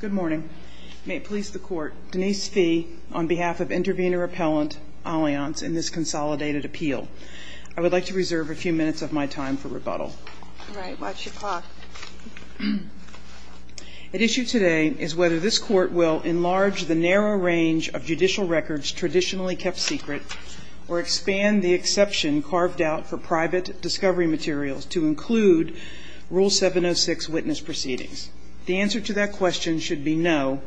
Good morning. May it please the Court, Denise Fee, on behalf of Intervenor Appellant Alliance in this consolidated appeal, I would like to reserve a few minutes of my time for rebuttal. All right. Watch your clock. At issue today is whether this Court will enlarge the narrow range of judicial records traditionally kept secret or expand the exception carved out for private discovery materials to include Rule 706 witness proceedings. The answer to that question should be no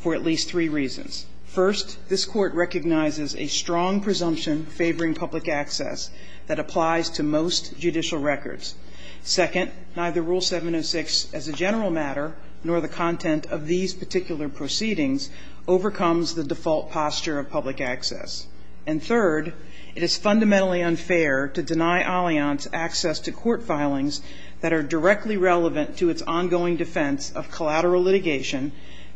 for at least three reasons. First, this Court recognizes a strong presumption favoring public access that applies to most judicial records. Second, neither Rule 706 as a general matter nor the content of these particular proceedings overcomes the default posture of public access. And third, it is fundamentally unfair to deny Alliance access to court filings that are directly relevant to its ongoing defense of collateral litigation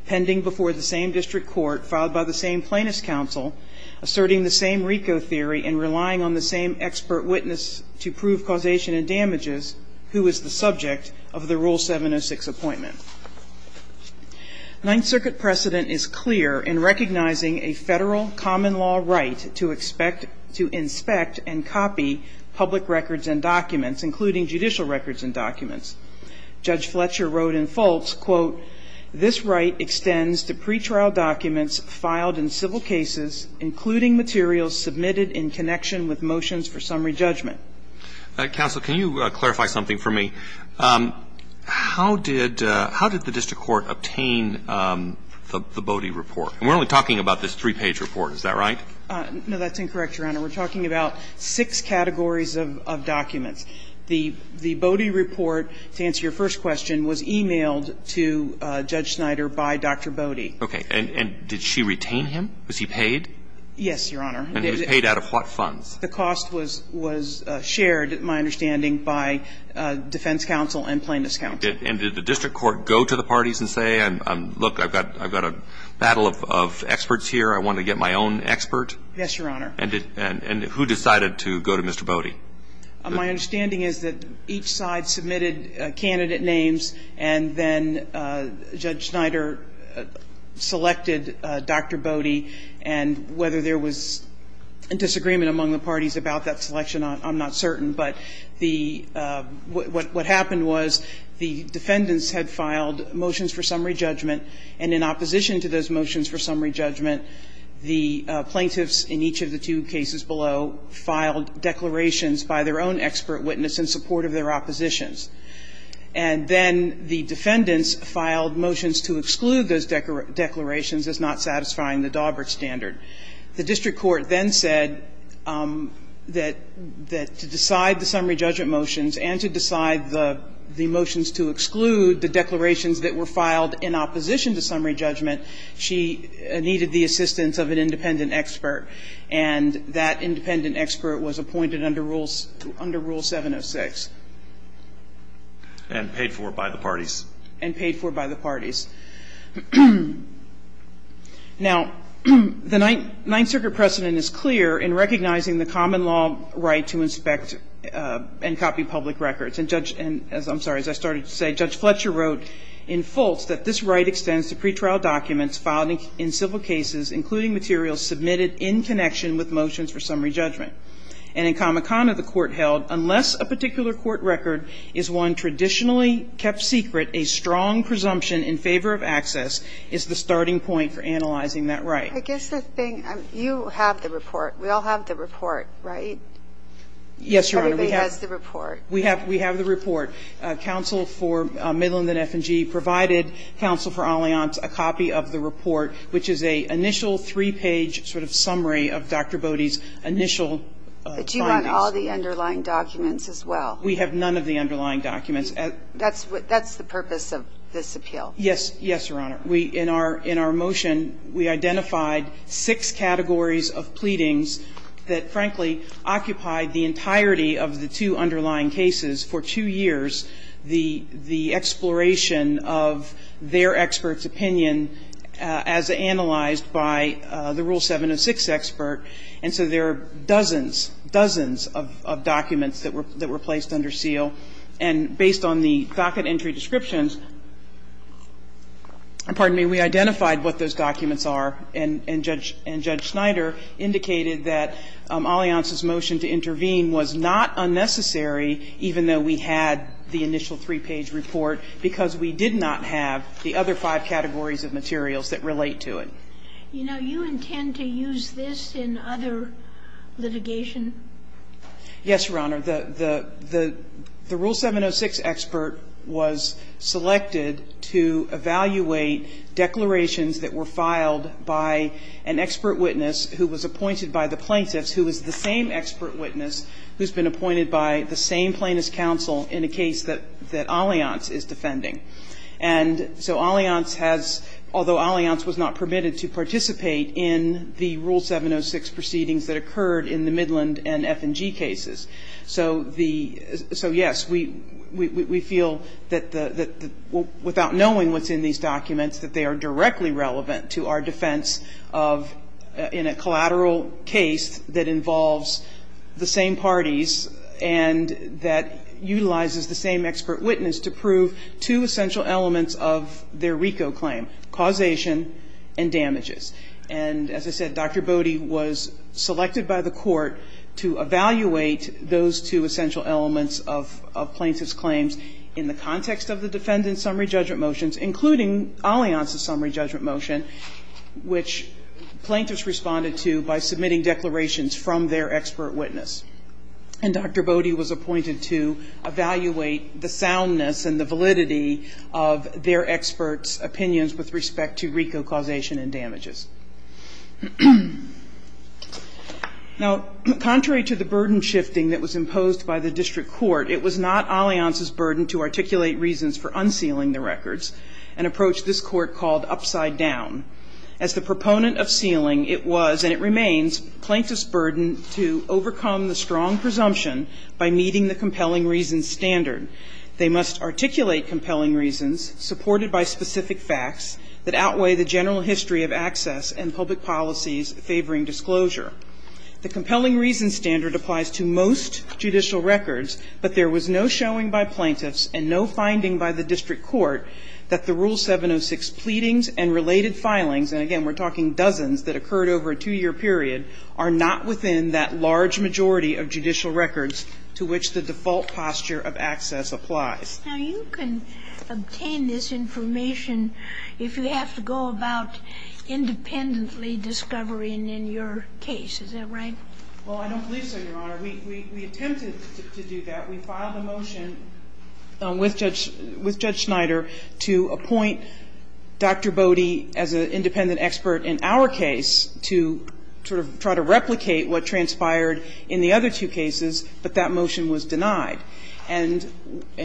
pending before the same district court filed by the same plaintiff's counsel, asserting the same RICO theory and relying on the same expert witness to prove causation and damages who is the subject of the Rule 706 appointment. Ninth Circuit precedent is clear in recognizing a Federal common law right to expect to inspect and copy public records and documents, including judicial records and documents. Judge Fletcher wrote in Fultz, quote, this right extends to pretrial documents filed in civil cases, including materials submitted in connection with motions for summary judgment. Counsel, can you clarify something for me? How did the district court obtain the Bodie report? And we're only talking about this three-page report, is that right? No, that's incorrect, Your Honor. We're talking about six categories of documents. The Bodie report, to answer your first question, was emailed to Judge Snyder by Dr. Bodie. Okay. And did she retain him? Was he paid? Yes, Your Honor. And he was paid out of what funds? The cost was shared, my understanding, by defense counsel and plaintiff's counsel. And did the district court go to the parties and say, look, I've got a battle of experts here, I want to get my own expert? Yes, Your Honor. And who decided to go to Mr. Bodie? My understanding is that each side submitted candidate names and then Judge Snyder selected Dr. Bodie. And whether there was a disagreement among the parties about that selection, I'm not certain. But the what happened was the defendants had filed motions for summary judgment, and in opposition to those motions for summary judgment, the plaintiffs in each of the two cases below filed declarations by their own expert witness in support of their oppositions. And then the defendants filed motions to exclude those declarations as not satisfying the Daubert standard. The district court then said that to decide the summary judgment motions and to decide the motions to exclude the declarations that were filed in opposition to summary judgment, she needed the assistance of an independent expert. And that independent expert was appointed under Rule 706. And paid for by the parties. And paid for by the parties. Now, the Ninth Circuit precedent is clear in recognizing the common law right to inspect and copy public records. And Judge ‑‑ I'm sorry, as I started to say, Judge Fletcher wrote in Fultz that this right extends to pretrial documents filed in civil cases, including materials submitted in connection with motions for summary judgment. And in Kamakana, the court held, unless a particular court record is one traditionally kept secret, a strong presumption in favor of access is the starting point for analyzing that right. I guess the thing ‑‑ you have the report. We all have the report, right? Yes, Your Honor. Everybody has the report. We have the report. Council for Midland and F&G provided Council for Allianz a copy of the report, which is an initial three‑page sort of summary of Dr. Bode's initial findings. But you want all the underlying documents as well? We have none of the underlying documents. That's the purpose of this appeal? Yes. Yes, Your Honor. In our motion, we identified six categories of pleadings that, frankly, occupied the entirety of the two underlying cases for two years. The exploration of their expert's opinion as analyzed by the Rule 706 expert. And so there are dozens, dozens of documents that were placed under seal. And based on the docket entry descriptions, pardon me, we identified what those documents are. And Judge Schneider indicated that Allianz's motion to intervene was not unnecessary, even though we had the initial three‑page report, because we did not have the other five categories of materials that relate to it. You know, you intend to use this in other litigation? Yes, Your Honor. The Rule 706 expert was selected to evaluate declarations that were filed by an expert witness who was appointed by the plaintiffs, who was the same expert witness who's been appointed by the same plaintiffs' counsel in a case that Allianz is defending. And so Allianz has, although Allianz was not permitted to participate in the Rule 706 proceedings that occurred in the Midland and F&G cases. So the ‑‑ so, yes, we feel that the ‑‑ without knowing what's in these documents, that they are directly relevant to our defense of, in a collateral case that involves the same parties and that utilizes the same expert witness to prove two essential elements of their RICO claim, causation and damages. And as I said, Dr. Bode was selected by the court to evaluate those two essential elements of plaintiffs' claims in the context of the defendant's summary judgment motions, including Allianz's summary judgment motion, which plaintiffs responded to by submitting declarations from their expert witness. And Dr. Bode was appointed to evaluate the soundness and the validity of their experts' opinions with respect to RICO causation and damages. Now, contrary to the burden shifting that was imposed by the district court, it was not Allianz's burden to articulate reasons for unsealing the records, an approach this court called upside down. As the proponent of sealing, it was, and it remains, plaintiffs' burden to overcome the strong presumption by meeting the compelling reasons standard. They must articulate compelling reasons supported by specific facts that outweigh the general history of access and public policies favoring disclosure. The compelling reasons standard applies to most judicial records, but there was no showing by plaintiffs and no finding by the district court that the Rule 706 pleadings and related filings, and again we're talking dozens that occurred over a two-year period, are not within that large majority of judicial records to which the default posture of access applies. Now, you can obtain this information if you have to go about independently discovering in your case. Is that right? Well, I don't believe so, Your Honor. We attempted to do that. We filed a motion with Judge Schneider to appoint Dr. Bode as an independent expert in our case to sort of try to replicate what transpired in the other two cases, but that motion was denied. And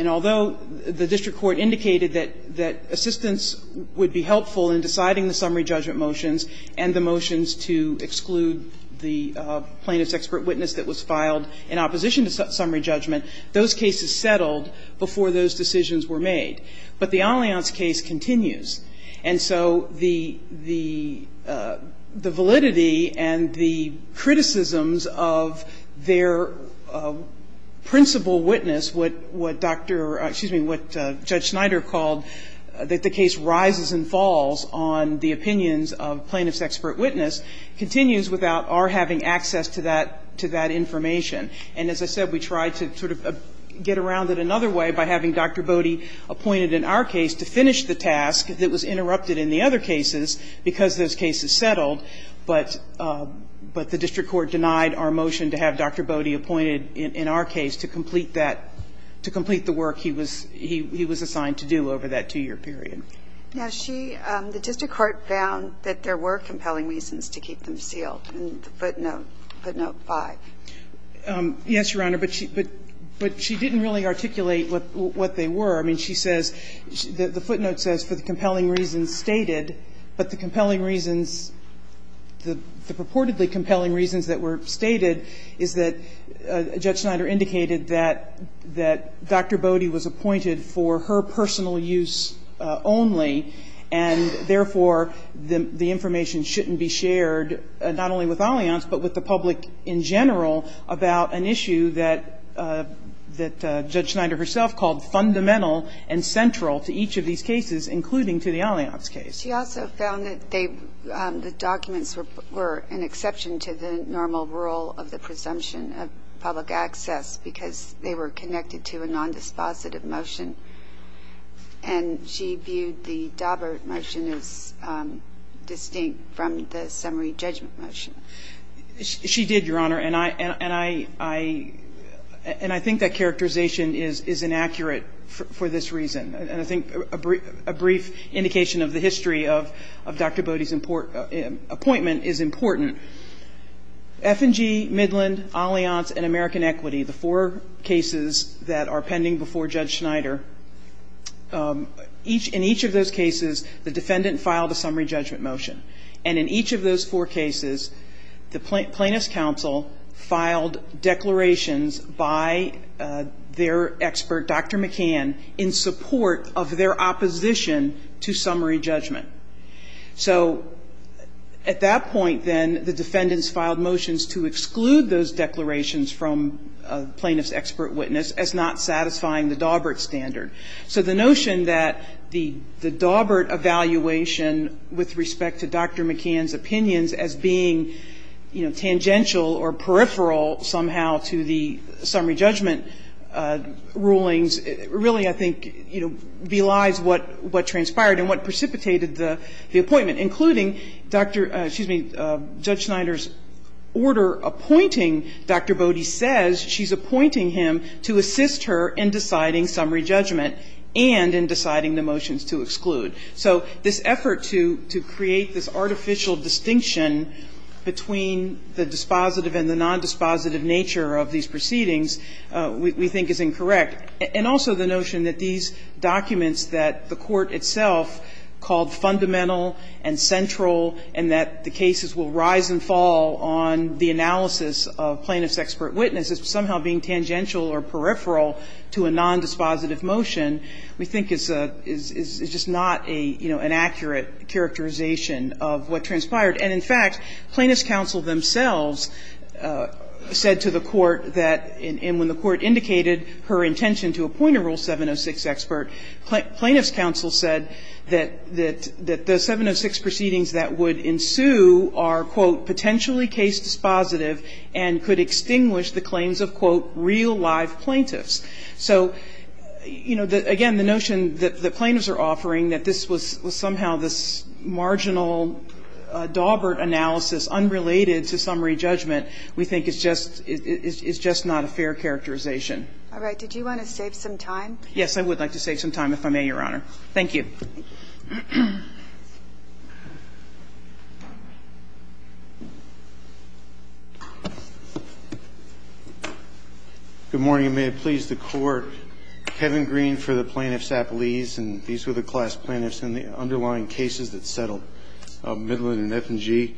although the district court indicated that assistance would be helpful in deciding the summary judgment motions and the motions to exclude the plaintiff's expert witness that was filed in opposition to summary judgment, those cases settled before those decisions were made. But the Allianz case continues. And so the validity and the criticisms of their principal witness, what Dr. or excuse me, what Judge Schneider called that the case rises and falls on the opinions of plaintiff's expert witness, continues without our having access to that information. And as I said, we tried to sort of get around it another way by having Dr. Bode appointed in our case to finish the task that was interrupted in the other cases because those cases settled. But the district court denied our motion to have Dr. Bode appointed in our case to that two-year period. Now, she the district court found that there were compelling reasons to keep them sealed in the footnote, footnote 5. Yes, Your Honor. But she didn't really articulate what they were. I mean, she says the footnote says for the compelling reasons stated, but the compelling reasons the purportedly compelling reasons that were stated is that Judge Schneider indicated that Dr. Bode was appointed for her personal use only, and therefore the information shouldn't be shared not only with Allianz, but with the public in general about an issue that Judge Schneider herself called fundamental and central to each of these cases, including to the Allianz case. She also found that the documents were an exception to the normal rule of the public access because they were connected to a nondispositive motion. And she viewed the Daubert motion as distinct from the summary judgment motion. She did, Your Honor, and I think that characterization is inaccurate for this reason. And I think a brief indication of the history of Dr. Bode's appointment is important. F&G, Midland, Allianz, and American Equity, the four cases that are pending before Judge Schneider, in each of those cases, the defendant filed a summary judgment motion. And in each of those four cases, the Plaintiff's counsel filed declarations by their expert, Dr. McCann, in support of their opposition to summary judgment. So at that point, then, the defendants filed motions to exclude those declarations from the Plaintiff's expert witness as not satisfying the Daubert standard. So the notion that the Daubert evaluation with respect to Dr. McCann's opinions as being, you know, tangential or peripheral somehow to the summary judgment rulings really, I think, belies what transpired and what precipitated the appointment, including Dr. ‑‑ excuse me, Judge Schneider's order appointing Dr. Bode says she's appointing him to assist her in deciding summary judgment and in deciding the motions to exclude. So this effort to create this artificial distinction between the dispositive and the nondispositive nature of these proceedings we think is incorrect. And also the notion that these documents that the Court itself called fundamental and central and that the cases will rise and fall on the analysis of Plaintiff's expert witness as somehow being tangential or peripheral to a nondispositive motion we think is just not a, you know, an accurate characterization of what transpired. And, in fact, Plaintiff's counsel themselves said to the Court that when the Court indicated her intention to appoint a Rule 706 expert, Plaintiff's counsel said that the 706 proceedings that would ensue are, quote, potentially case dispositive and could extinguish the claims of, quote, real live plaintiffs. So, you know, again, the notion that the plaintiffs are offering that this was somehow this marginal Dawbert analysis unrelated to summary judgment we think is just not a fair characterization. All right. Did you want to save some time? Yes, I would like to save some time if I may, Your Honor. Thank you. Good morning, and may it please the Court. Kevin Green for the Plaintiffs Appellees, and these were the class plaintiffs in the underlying cases that settled Midland and F&G.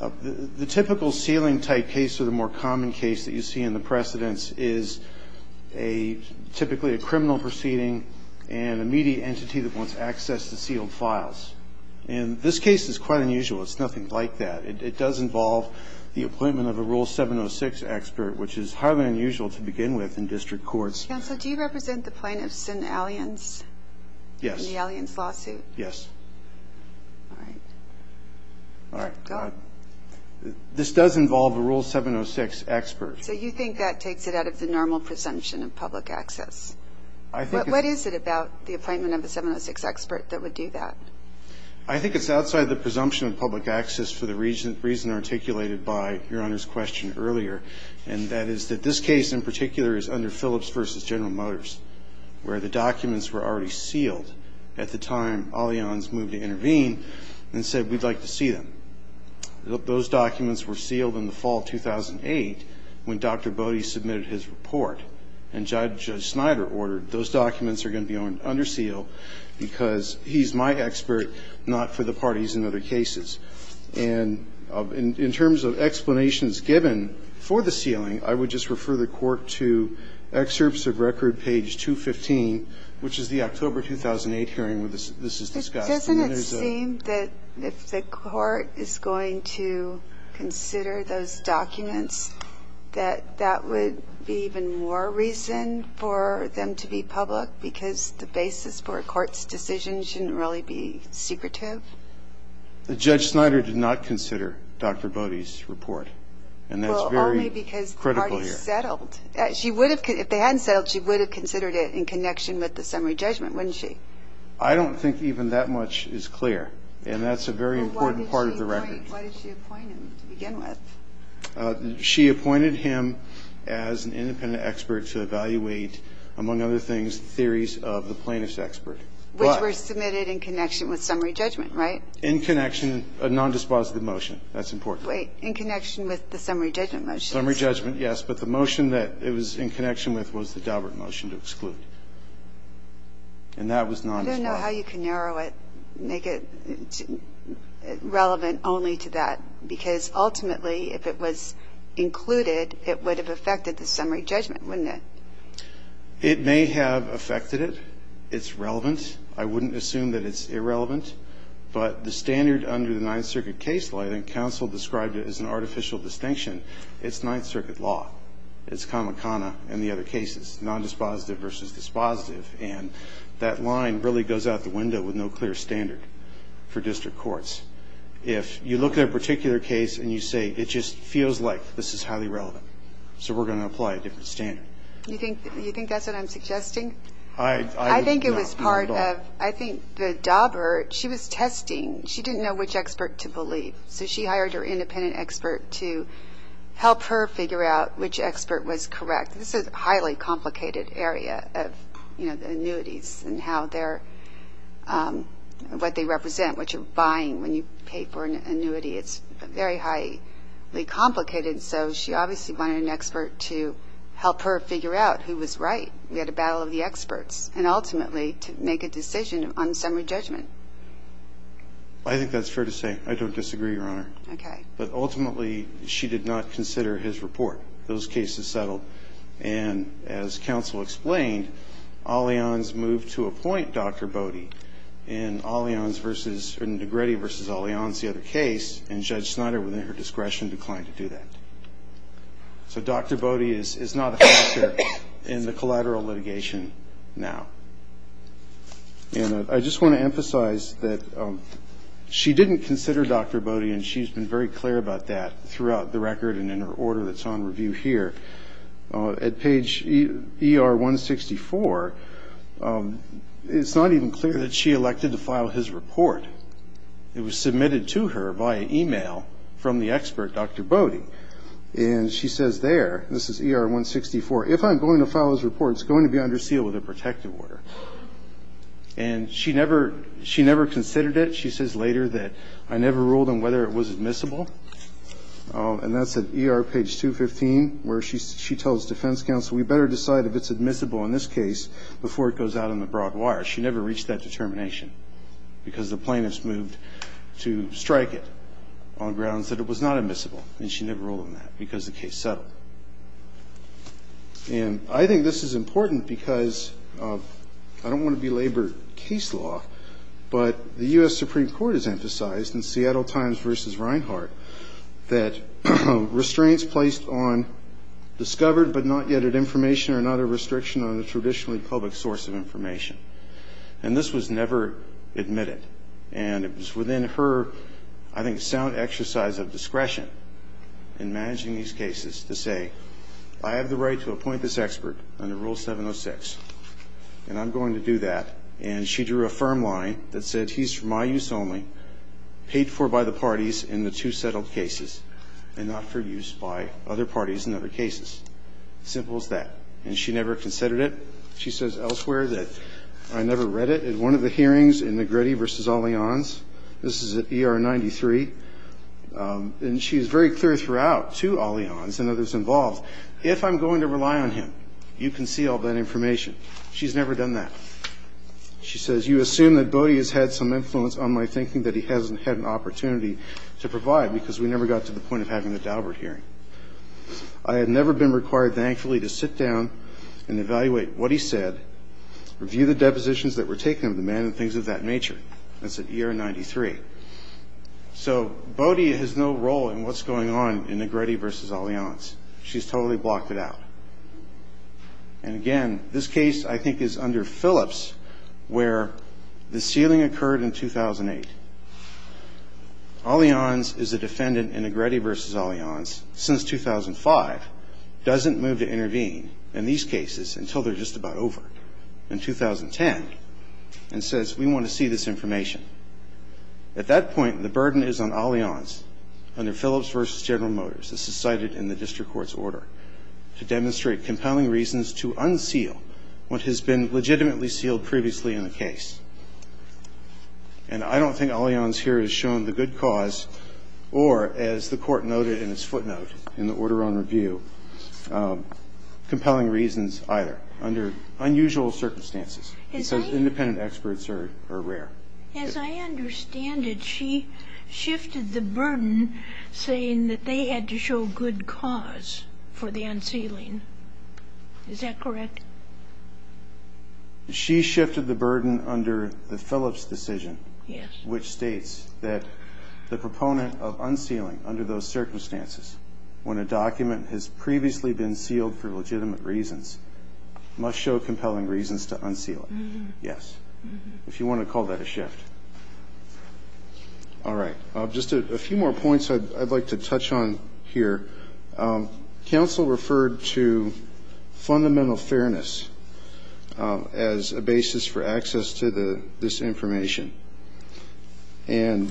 The typical ceiling-type case or the more common case that you see in the precedents is a – typically a criminal proceeding and immediate entity that wants access to sealed files. And this case is quite unusual. It's nothing like that. It does involve the appointment of a Rule 706 expert, which is highly unusual to begin with in district courts. Counsel, do you represent the plaintiffs in Allianz? Yes. In the Allianz lawsuit? Yes. All right. All right. Go on. This does involve a Rule 706 expert. So you think that takes it out of the normal presumption of public access? I think it's – But what is it about the appointment of a 706 expert that would do that? I think it's outside the presumption of public access for the reason articulated by Your Honor's question earlier, and that is that this case in particular is under Phillips v. General Motors, where the documents were already sealed at the time Allianz moved to intervene and said, we'd like to see them. Those documents were sealed in the fall of 2008 when Dr. Bode submitted his report, and Judge Snyder ordered those documents are going to be under seal because he's my expert, not for the parties in other cases. And in terms of explanations given for the sealing, I would just refer the Court to excerpts of record page 215, which is the October 2008 hearing where this is discussed. Doesn't it seem that if the Court is going to consider those documents, that that would be even more reason for them to be public because the basis for a court's decision shouldn't really be secretive? Judge Snyder did not consider Dr. Bode's report, and that's very critical here. Well, only because the parties settled. If they hadn't settled, she would have considered it in connection with the summary judgment, wouldn't she? I don't think even that much is clear, and that's a very important part of the record. Well, why did she appoint him to begin with? She appointed him as an independent expert to evaluate, among other things, theories of the plaintiff's expert. Which were submitted in connection with summary judgment, right? In connection, a nondispositive motion. That's important. Wait. In connection with the summary judgment motion. Summary judgment, yes. But the motion that it was in connection with was the Daubert motion to exclude. And that was nondispositive. I don't know how you can narrow it, make it relevant only to that. Because ultimately, if it was included, it would have affected the summary judgment, wouldn't it? It may have affected it. It's relevant. I wouldn't assume that it's irrelevant. But the standard under the Ninth Circuit case law, and counsel described it as an artificial distinction, it's Ninth Circuit law. It's comicana in the other cases. Nondispositive versus dispositive. And that line really goes out the window with no clear standard for district courts. If you look at a particular case and you say, it just feels like this is highly relevant. So we're going to apply a different standard. You think that's what I'm suggesting? I think it was part of, I think the Daubert, she was testing. She didn't know which expert to believe. So she hired her independent expert to help her figure out which expert was correct. This is a highly complicated area of, you know, the annuities and how they're, what they represent, what you're buying when you pay for an annuity. It's very highly complicated. So she obviously wanted an expert to help her figure out who was right. We had a battle of the experts. And ultimately to make a decision on summary judgment. I think that's fair to say. I don't disagree, Your Honor. Okay. But ultimately she did not consider his report. Those cases settled. And as counsel explained, Allianz moved to appoint Dr. Bode. And Allianz versus, Negrete versus Allianz, the other case, and Judge Snyder within her discretion declined to do that. So Dr. Bode is not a factor in the collateral litigation now. And I just want to emphasize that she didn't consider Dr. Bode, and she's been very clear about that throughout the record and in her order that's on review here. At page ER-164, it's not even clear that she elected to file his report. It was submitted to her via e-mail from the expert, Dr. Bode. And she says there, this is ER-164, if I'm going to file his report it's going to be under seal with a protective order. And she never considered it. She says later that I never ruled on whether it was admissible. And that's at ER page 215 where she tells defense counsel, we better decide if it's admissible in this case before it goes out on the broad wire. She never reached that determination because the plaintiffs moved to strike it on grounds that it was not admissible, and she never ruled on that because the case settled. And I think this is important because I don't want to belabor case law, but the U.S. Supreme Court has emphasized in Seattle Times versus Reinhart that restraints placed on discovered but not yet at information are not a restriction on a traditionally public source of information. And this was never admitted. And it was within her, I think, sound exercise of discretion in managing these cases to say I have the right to appoint this expert under Rule 706, and I'm going to do that. And she drew a firm line that said he's for my use only, paid for by the parties in the two settled cases and not for use by other parties in other cases. Simple as that. And she never considered it. She says elsewhere that I never read it. At one of the hearings in Negretti v. Allianz, this is at ER 93, and she is very clear throughout to Allianz and others involved, if I'm going to rely on him, you can see all that information. She's never done that. She says you assume that Bodie has had some influence on my thinking that he hasn't had an opportunity to provide because we never got to the point of having a Daubert hearing. I have never been required, thankfully, to sit down and evaluate what he said, review the depositions that were taken of the man and things of that nature. That's at ER 93. So Bodie has no role in what's going on in Negretti v. Allianz. She's totally blocked it out. And again, this case I think is under Phillips where the sealing occurred in 2008. Allianz is a defendant in Negretti v. Allianz since 2005, doesn't move to intervene in these cases until they're just about over in 2010, and says we want to see this information. At that point, the burden is on Allianz under Phillips v. General Motors. This is cited in the district court's order to demonstrate compelling reasons to unseal what has been legitimately sealed previously in the case. And I don't think Allianz here has shown the good cause or, as the court noted in its footnote in the order on review, compelling reasons either under unusual circumstances. It says independent experts are rare. As I understand it, she shifted the burden saying that they had to show good cause for the unsealing. Is that correct? She shifted the burden under the Phillips decision. Yes. Which states that the proponent of unsealing under those circumstances when a document has previously been sealed for legitimate reasons must show compelling reasons to unseal it. Yes. If you want to call that a shift. All right. Just a few more points I'd like to touch on here. Counsel referred to fundamental fairness as a basis for access to this information. And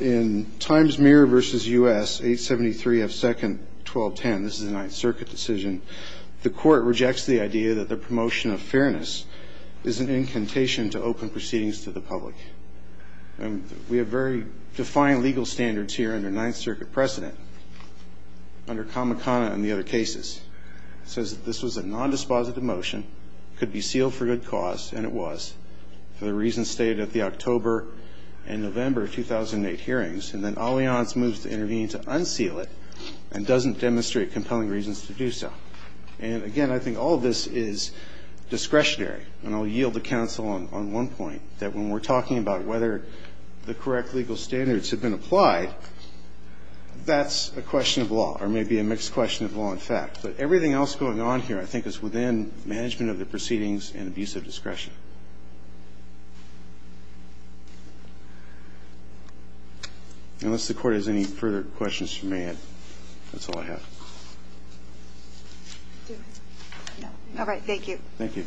in Times Mirror v. U.S., 873 F. Second, 1210, this is a Ninth Circuit decision, and the court rejects the idea that the promotion of fairness is an incantation to open proceedings to the public. And we have very defined legal standards here under Ninth Circuit precedent, under Kamikana and the other cases. It says that this was a nondispositive motion, could be sealed for good cause, and it was, for the reasons stated at the October and November 2008 hearings. And then Allianz moves to intervene to unseal it and doesn't demonstrate compelling reasons to do so. And, again, I think all of this is discretionary. And I'll yield to counsel on one point, that when we're talking about whether the correct legal standards have been applied, that's a question of law, or maybe a mixed question of law and fact. But everything else going on here, I think, is within management of the proceedings and abuse of discretion. Unless the Court has any further questions you may have, that's all I have. All right. Thank you. Thank you.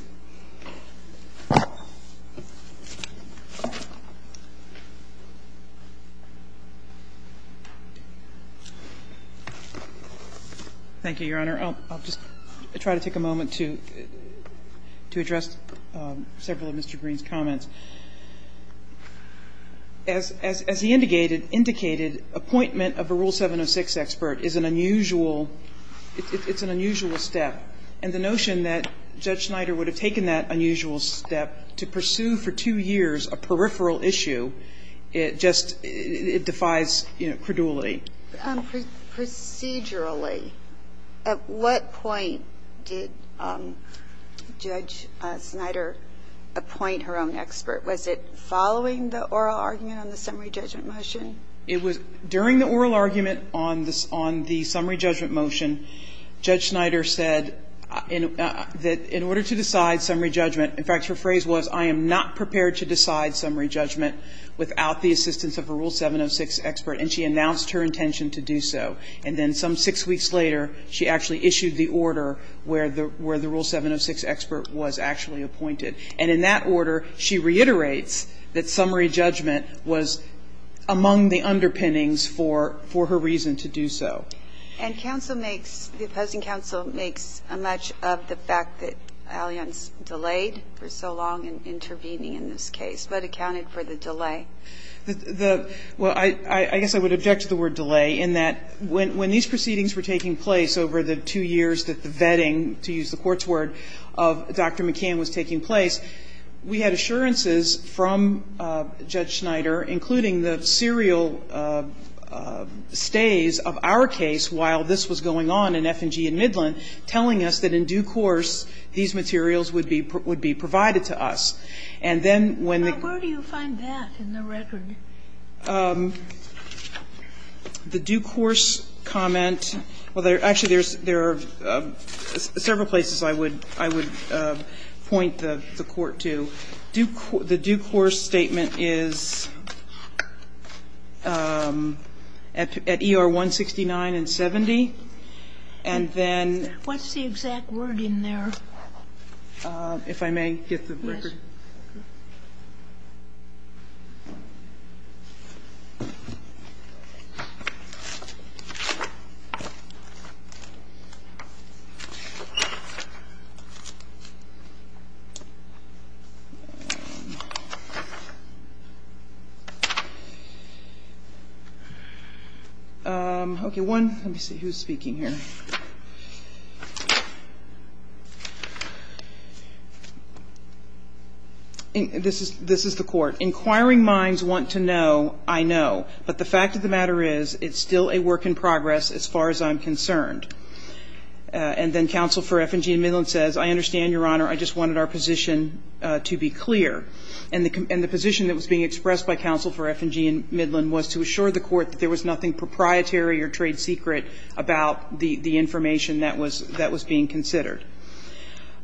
Thank you, Your Honor. I'll just try to take a moment to address several of Mr. Green's comments. As he indicated, appointment of a Rule 706 expert is an unusual step. And the notion that Judge Schneider would have taken that unusual step to pursue for two years a peripheral issue, it just, it defies credulity. Procedurally, at what point did Judge Schneider appoint her own expert? Was it following the oral argument on the summary judgment motion? It was during the oral argument on the summary judgment motion. Judge Schneider said that in order to decide summary judgment, in fact, her phrase was, I am not prepared to decide summary judgment without the assistance of a Rule 706 expert. And she announced her intention to do so. And then some six weeks later, she actually issued the order where the Rule 706 expert was actually appointed. And in that order, she reiterates that summary judgment was among the underpinnings for her reason to do so. And counsel makes, the opposing counsel makes a match of the fact that Allianz delayed for so long in intervening in this case, but accounted for the delay. The, well, I guess I would object to the word delay in that when these proceedings were taking place over the two years that the vetting, to use the Court's word, of Dr. McCann was taking place, we had assurances from Judge Schneider, including the serial stays of our case while this was going on in F&G and Midland, telling us that in due course, these materials would be provided to us. And then when the Court Sotomayor, where do you find that in the record? The due course comment, well, actually, there are several places I would point the record to. I think it's at ER 169 and 70. And then what's the exact word in there? If I may get the record. Yes. Okay. One, let me see who's speaking here. This is the Court. Inquiring minds want to know, I know. But the fact of the matter is, it's still a work in progress as far as I'm concerned. And then counsel for F&G and Midland says, I understand, Your Honor, I just wanted our position to be clear. And the position that was being expressed by counsel for F&G and Midland was to assure the Court that there was nothing proprietary or trade secret about the information that was being considered.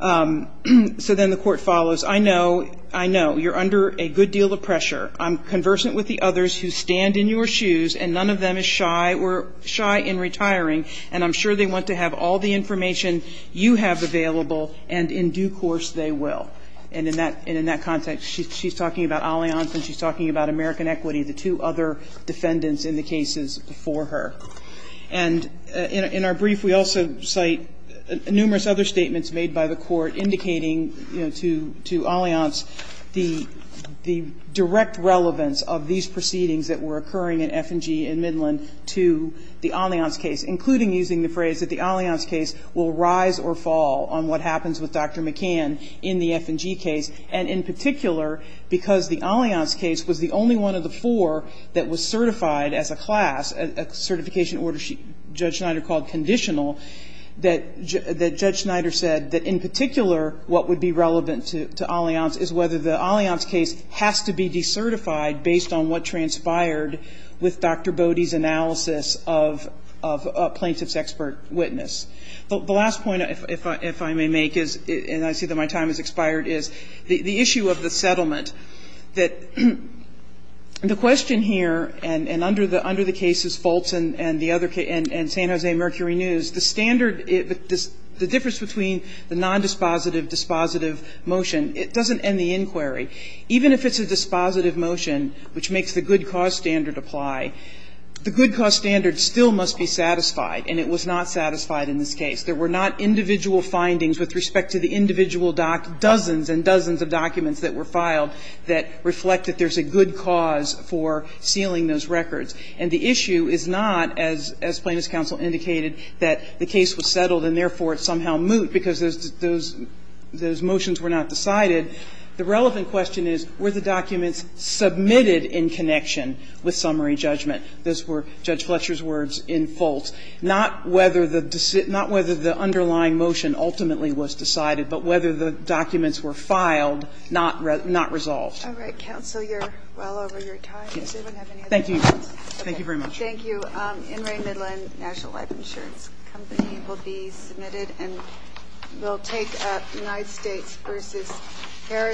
So then the Court follows. I know. I know. You're under a good deal of pressure. I'm conversant with the others who stand in your shoes, and none of them is shy or shy in retiring, and I'm sure they want to have all the information you have available, and in due course they will. And in that context, she's talking about Allianz and she's talking about American Equity, the two other defendants in the cases before her. And in our brief, we also cite numerous other statements made by the Court indicating, you know, to Allianz the direct relevance of these proceedings that were occurring in F&G and Midland to the Allianz case, including using the phrase that the Allianz case will rise or fall on what happens with Dr. McCann in the F&G case, and in particular because the Allianz case was the only one of the four that was certified as a class, a certification order Judge Schneider called conditional, that Judge Schneider said that in particular what would be relevant to Allianz is whether the Allianz case has to be decertified based on what transpired with Dr. Bode's analysis of a plaintiff's expert witness. The last point, if I may make, is, and I see that my time has expired, is the issue of the settlement, that the question here, and under the cases Foltz and the other case, and St. Jose Mercury News, the standard, the difference between the nondispositive dispositive motion, it doesn't end the inquiry. Even if it's a dispositive motion, which makes the good cause standard apply, the good cause standard still must be satisfied, and it was not satisfied in this case. There were not individual findings with respect to the individual dozens and dozens of documents that were filed that reflect that there's a good cause for sealing those records. And the issue is not, as Plaintiff's counsel indicated, that the case was settled and therefore it somehow moot because those motions were not decided. The relevant question is, were the documents submitted in connection with summary judgment? Those were Judge Fletcher's words in Foltz. Not whether the underlying motion ultimately was decided, but whether the documents were filed, not resolved. All right. Counsel, you're well over your time. Thank you. Thank you very much. Thank you. In re Midland, National Life Insurance Company, will be submitted and will take up United States v. Harris.